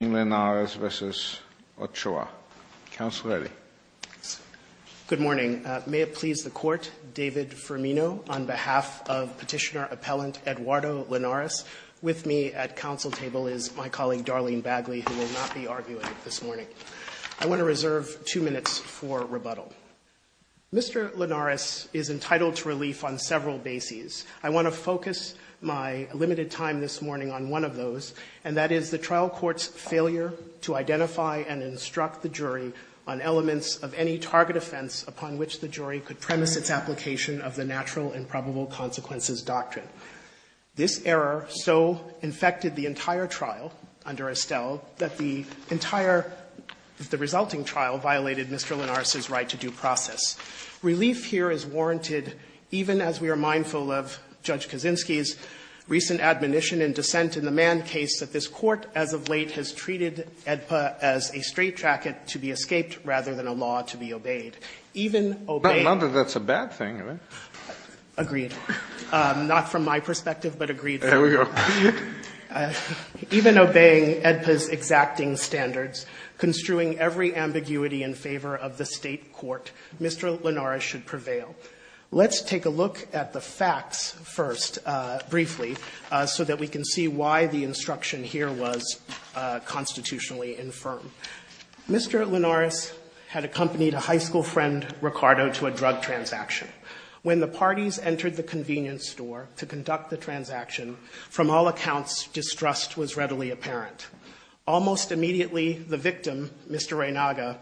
Good morning. May it please the Court, David Firmino, on behalf of Petitioner-Appellant Eduardo Linares. With me at Council table is my colleague Darlene Bagley, who will not be arguing this morning. I want to reserve two minutes for rebuttal. Mr. Linares is entitled to relief on several bases. I want to focus my limited time this morning on one of those, and that is the trial court's failure to identify and instruct the jury on elements of any target offense upon which the jury could premise its application of the natural and probable consequences doctrine. This error so infected the entire trial under Estelle that the entire resulting trial violated Mr. Linares' right to due process. Relief here is warranted even as we are mindful of Judge Kaczynski's recent admonition in dissent in the Mann case that this Court as of late has treated AEDPA as a straight tracket to be escaped rather than a law to be obeyed. In my perspective, but agreed to, even obeying AEDPA's exacting standards, construing every ambiguity in favor of the State court, Mr. Linares should prevail. Let's take a look at the facts first, briefly, so that we can see why the instruction here was constitutionally infirm. Mr. Linares had accompanied a high school friend, Ricardo, to a drug transaction. When the parties entered the convenience store to conduct the transaction, from all accounts, distrust was readily apparent. Almost immediately, the victim, Mr. Reynaga,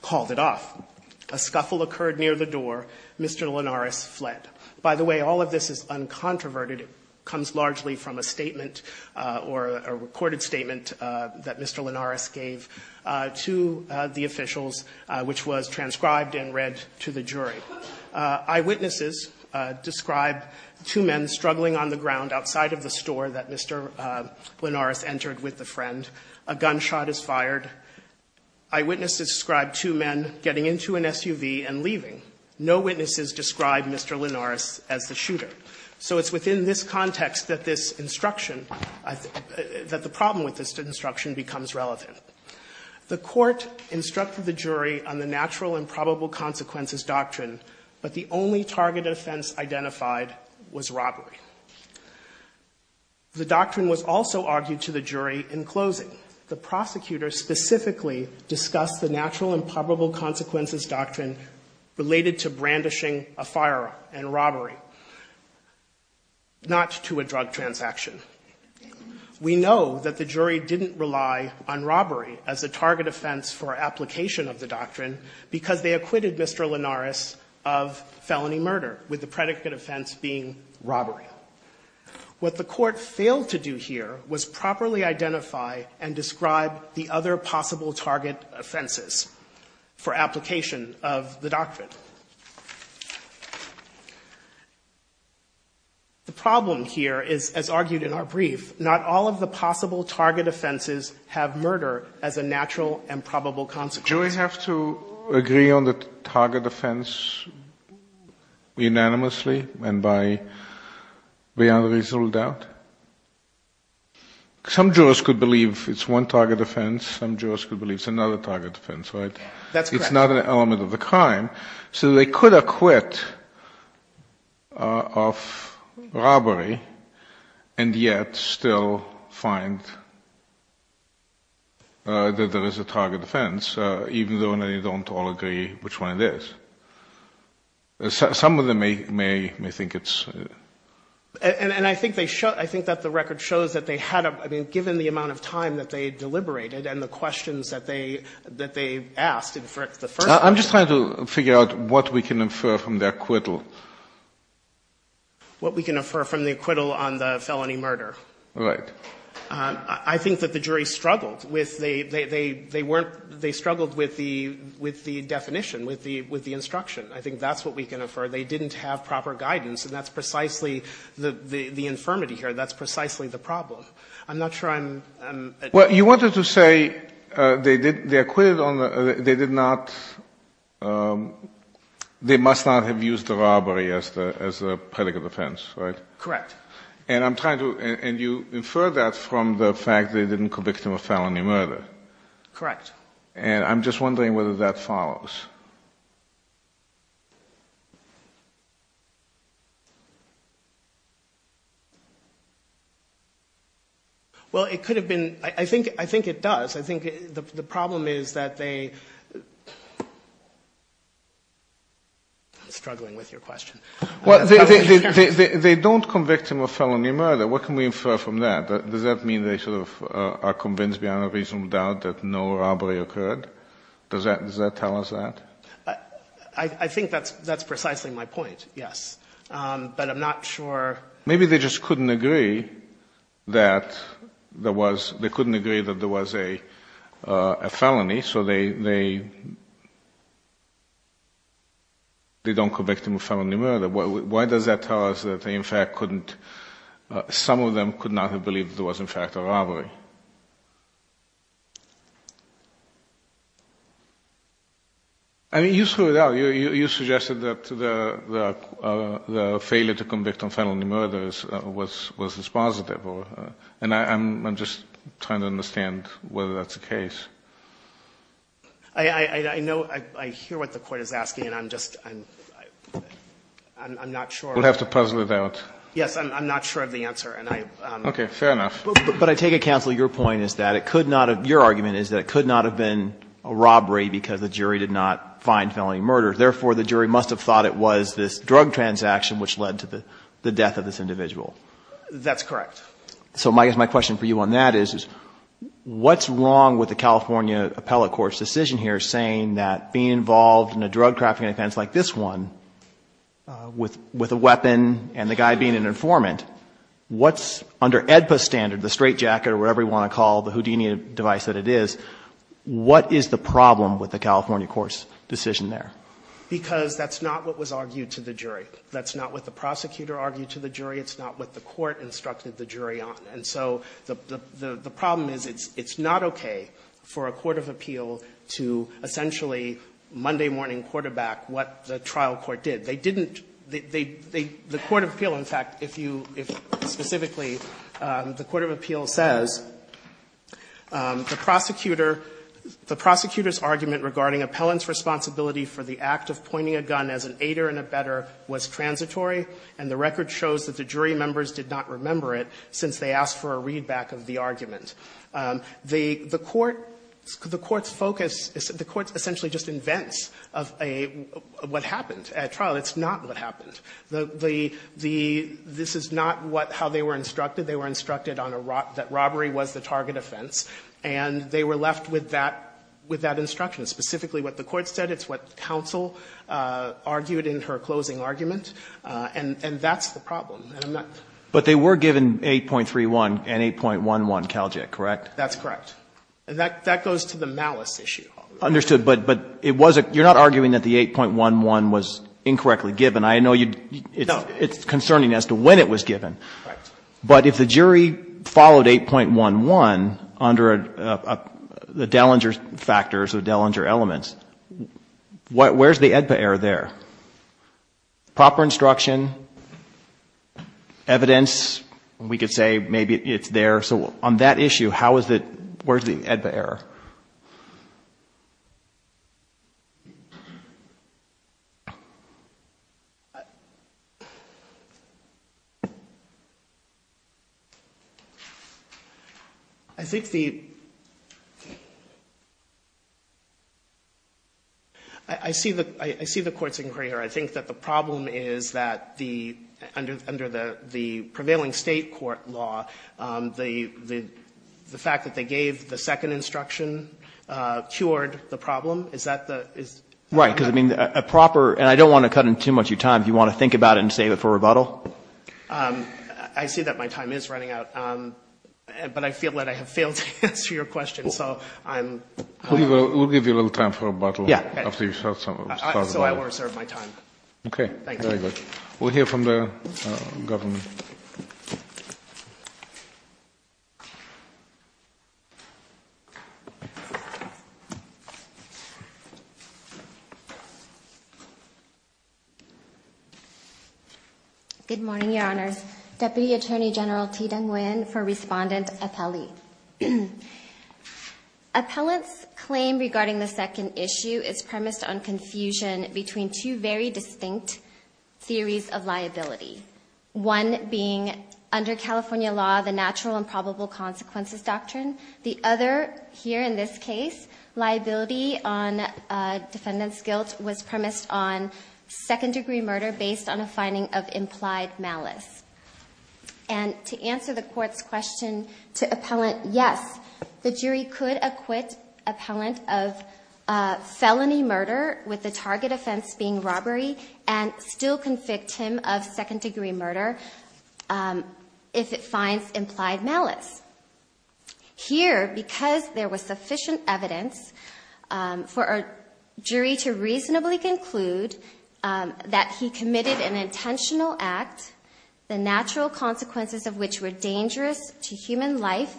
called it off. A scuffle occurred near the door. Mr. Linares fled. By the way, all of this is uncontroverted. It comes largely from a statement or a recorded statement that Mr. Linares made to one of the officials, which was transcribed and read to the jury. Eyewitnesses describe two men struggling on the ground outside of the store that Mr. Linares entered with the friend. A gunshot is fired. Eyewitnesses describe two men getting into an SUV and leaving. No witnesses describe Mr. Linares as the shooter. So it's within this context that this instruction, that the problem with this instruction becomes relevant. The court instructed the jury on the natural and probable consequences doctrine, but the only targeted offense identified was robbery. The doctrine was also argued to the jury in closing. The prosecutor specifically discussed the natural and probable consequences doctrine related to brandishing a firearm and robbery, not to a drug transaction. We know that the jury didn't rely on robbery as a target offense for application of the doctrine because they acquitted Mr. Linares of felony murder with the predicate offense being robbery. What the court failed to do here was properly identify and describe the other possible target offenses for application of the doctrine. The problem here is, as argued in our brief, not all of the possible target offenses have murder as a natural and probable consequence. Do we have to agree on the target offense unanimously and by unreasonable doubt? Some jurors could believe it's one target offense, some jurors could believe it's another target offense, right? That's correct. It's not an element of the crime. So they could acquit of robbery and yet still find that there is a target offense, even though they don't all agree which one it is. Some of them may think it's... And I think that the record shows that they had, I mean, given the amount of time that they deliberated and the questions that they asked in the first place... I'm just trying to figure out what we can infer from the acquittal. What we can infer from the acquittal on the felony murder? Right. I think that the jury struggled with the definition, with the instruction. I think that's what we can infer. They didn't have proper guidance and that's precisely the infirmity here. That's precisely the problem. I'm not sure I'm... Well, you wanted to say they acquitted on the... They did not... They must not have used the robbery as a predicate offense, right? Correct. And I'm trying to... And you infer that from the fact they didn't convict him of felony murder. Correct. And I'm just wondering whether that follows. Well, it could have been... I think it does. I think the problem is that they... I'm struggling with your question. Well, they don't convict him of felony murder. What can we infer from that? Does that mean they sort of are convinced beyond a reasonable doubt that no robbery occurred? Does that tell us that? I think that's precisely my point, yes. But I'm not sure... Maybe they just couldn't agree that there was... They couldn't agree that there was a felony, so they... They don't convict him of felony murder. Why does that tell us that they, in fact, couldn't... Some of them could not have believed there was, in fact, a robbery? I mean, you threw it out. You suggested that the failure to convict on felony murders was dispositive. And I'm just trying to understand whether that's the case. I know... I hear what the Court is asking, and I'm just... I'm not sure... We'll have to puzzle it out. Yes, I'm not sure of the answer, and I... Okay, fair enough. But I take it, counsel, your point is that it could not have... Therefore, the jury must have thought it was this drug transaction which led to the death of this individual. That's correct. So my question for you on that is, what's wrong with the California appellate court's decision here saying that being involved in a drug-crafting offense like this one, with a weapon and the guy being an informant, what's under AEDPA standard, the straitjacket, or whatever you want to call the Houdini device that it is, what is the problem with the California court's decision there? Because that's not what was argued to the jury. That's not what the prosecutor argued to the jury. It's not what the court instructed the jury on. And so the problem is it's not okay for a court of appeal to essentially Monday morning quarterback what the trial court did. They didn't... The court of appeal, in fact, if you... The court of appeal says the prosecutor's argument regarding appellant's responsibility for the act of pointing a gun as an aider and abetter was transitory, and the record shows that the jury members did not remember it since they asked for a readback of the argument. The court's focus... The court essentially just invents what happened at trial. It's not what happened. This is not how they were instructed. They were instructed that robbery was the target offense, and they were left with that instruction, specifically what the court said. It's what counsel argued in her closing argument. And that's the problem. And I'm not... But they were given 8.31 and 8.11 Caljet, correct? That's correct. And that goes to the malice issue. Understood. But it was a... You're not arguing that the 8.11 was incorrectly given. I know you... No. It's concerning as to when it was given. Right. But if the jury followed 8.11 under the Dellinger factors or Dellinger elements, where's the AEDPA error there? Proper instruction, evidence, we could say maybe it's there. So on that issue, where's the AEDPA error? I think the... I see the Court's inquiry here. I think that the problem is that the, under the prevailing State court law, the fact that they gave the second instruction cured the problem. Is that the... Right, because I mean, a proper, and I don't want to cut in too much of your time if you want to think about it and save it for rebuttal. I see that my time is running out. But I feel that I have failed to answer your question. So I'm... We'll give you a little time for rebuttal. Yeah. So I will reserve my time. Okay. Thank you. Very good. We'll hear from the government. Good morning, Your Honors. Deputy Attorney General Thi Dang Nguyen for Respondent Appellee. Appellant's claim regarding the second issue is premised on confusion between two very distinct theories of liability. One being, under California law, the natural and probable consequences doctrine. The other, here in this case, liability on defendant's guilt was premised on second-degree murder based on a finding of implied malice. And to answer the court's question to appellant, yes, the jury could acquit appellant of felony murder with the target offense being robbery and still convict him of second-degree murder if it finds implied malice. Here, because there was sufficient evidence for a jury to reasonably conclude that he committed an intentional act, the natural consequences of which were dangerous to human life,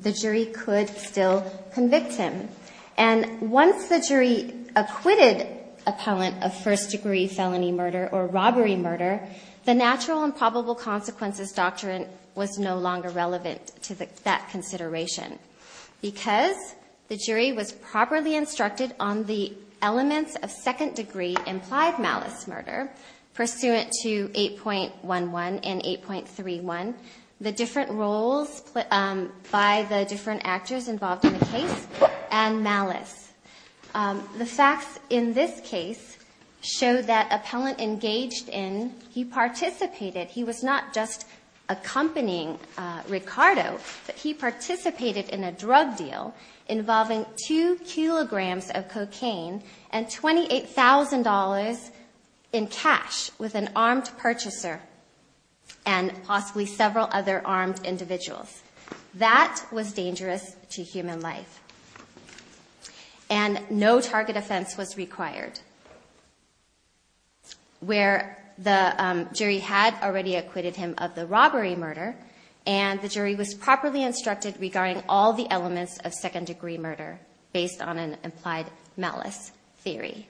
the jury could still convict him. And once the jury acquitted appellant of first-degree felony murder or robbery murder, the natural and probable consequences doctrine was no longer relevant to that consideration because the jury was properly instructed on the elements of second-degree implied malice murder pursuant to 8.11 and 8.31, the different roles by the different actors involved in the case, and malice. The facts in this case show that appellant engaged in, he participated, he was not just accompanying Ricardo, but he participated in a drug deal involving two kilograms of cocaine and $28,000 in cash with an armed purchaser and possibly several other armed individuals. That was dangerous to human life. And no target offense was required where the jury had already acquitted him of the robbery murder and the jury was properly instructed regarding all the elements of second-degree murder based on an implied malice theory.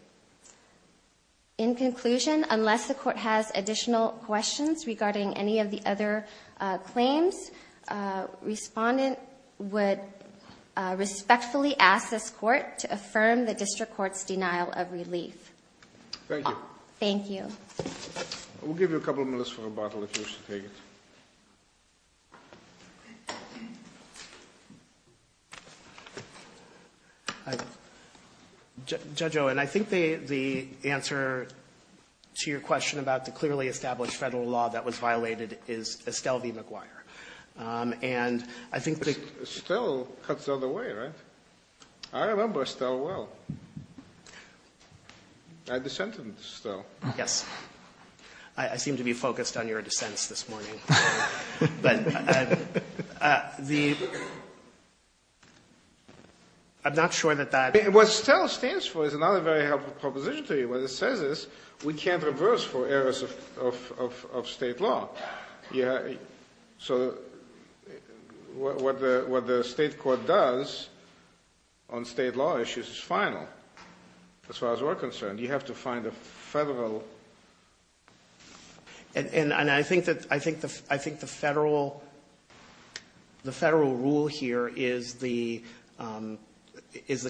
In conclusion, unless the court has additional questions regarding any of the other claims, respondent would respectfully ask this court to affirm the district court's denial of relief. Thank you. Thank you. We'll give you a couple minutes for rebuttal if you wish to take it. Judge Owen, I think the answer to your question about the clearly established federal law that was violated is Estelle v. McGuire. And I think that... Estelle cuts out of the way, right? I remember Estelle well. I dissented Estelle. Yes. I seem to be focused on your dissents this morning. I'm not sure that that... What Estelle stands for is another very helpful proposition to you. What it says is we can't reverse for errors of state law. Yeah. So what the state court does on state law issues is final, as far as we're concerned. You have to find a federal... And I think the federal rule here is the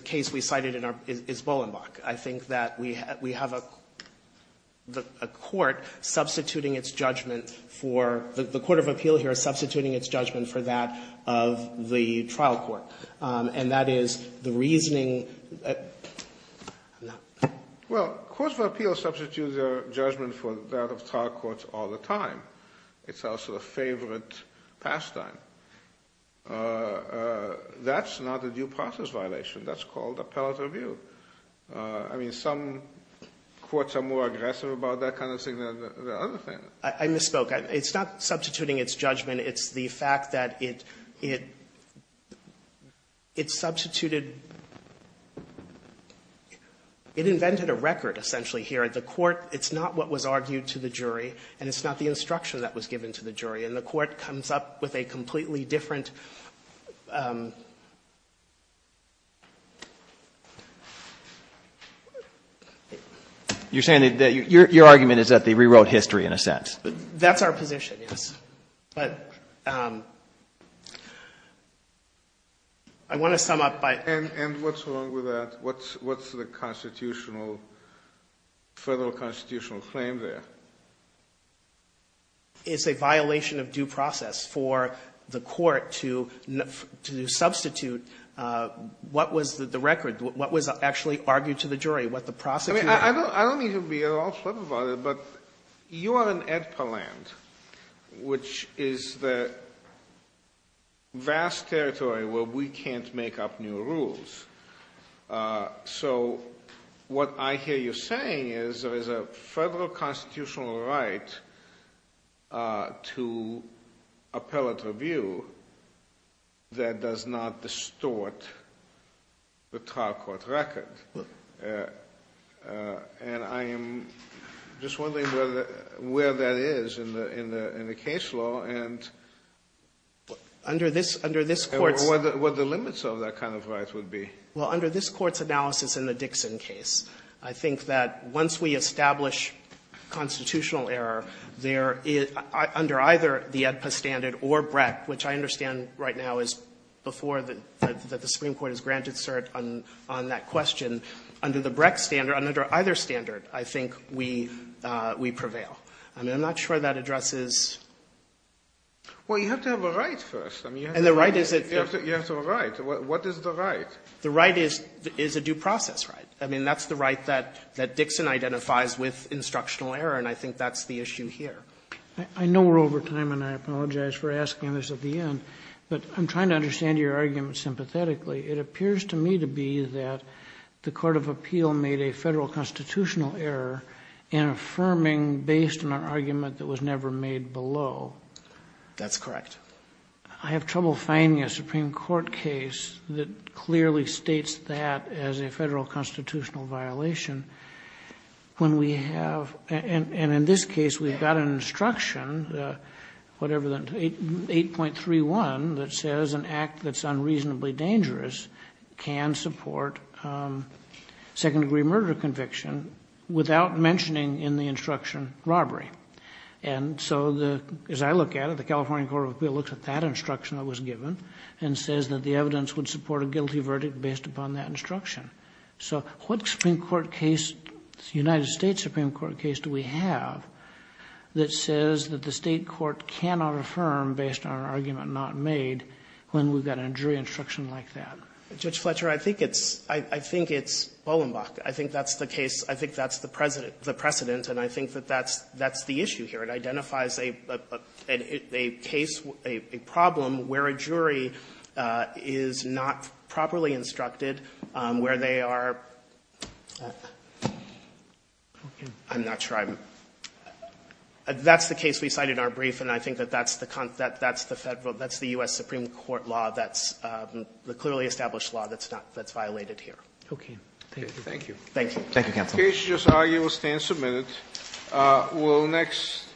case we cited is Bolenbach. I think that we have a court substituting its judgment for... The court of appeal here is substituting its judgment for that of the trial court. And that is the reasoning... Well, courts of appeal substitute their judgment for that of trial courts all the time. It's also a favorite pastime. That's not a due process violation. That's called appellate review. I mean, some courts are more aggressive about that kind of thing than other things. I misspoke. It's not substituting its judgment. It's the fact that it substituted... It invented a record, essentially, here. The court... It's not what was argued to the jury, and it's not the instruction that was given to the jury. And the court comes up with a completely different... You're saying that your argument is that they rewrote history, in a sense. That's our position, yes. But I want to sum up by... And what's wrong with that? What's the constitutional, federal constitutional claim there? It's a violation of due process for the court to substitute what was the record, what was actually argued to the jury, what the prosecutor... I don't mean to be at all flippant about it, but you are in EDPA land, which is the vast territory where we can't make up new rules. So what I hear you saying is there is a federal constitutional right to appellate review that does not distort the trial court record. And I am just wondering where that is in the case law and... Under this court's... What the limits of that kind of right would be. Well, under this court's analysis in the Dixon case, I think that once we establish constitutional error, there is, under either the EDPA standard or BREC, which I understand right now is before the Supreme Court has granted cert on that question. Under the BREC standard, under either standard, I think we prevail. I'm not sure that addresses... Well, you have to have a right first. And the right is... You have to have a right. What is the right? The right is a due process right. I mean, that's the right that Dixon identifies with instructional error, and I think that's the issue here. I know we're over time, and I apologize for asking this at the end, but I'm trying to understand your argument sympathetically. It appears to me to be that the court of appeal made a federal constitutional error in affirming based on an argument that was never made below. That's correct. I have trouble finding a Supreme Court case that clearly states that as a federal constitutional violation. When we have... And in this case, we've got an instruction, whatever, 8.31, that says an act that's unreasonably dangerous can support second-degree murder conviction without mentioning in the instruction robbery. And so as I look at it, the California Court of Appeal looks at that instruction that was given and says that the evidence would support a guilty verdict based upon that instruction. So what Supreme Court case, United States Supreme Court case, do we have that says that the state court cannot affirm based on an argument not made when we've got a jury instruction like that? Judge Fletcher, I think it's Bolenbach. I think that's the case. I think that's the precedent, and I think that that's the issue here. It identifies a case, a problem where a jury is not properly instructed, where they are... I'm not sure I'm... That's the case we cited in our brief, and I think that that's the U.S. Supreme Court law, that's the clearly established law that's violated here. Okay. Thank you. Thank you, counsel. The case is just argued. We'll stand submitted. We'll next...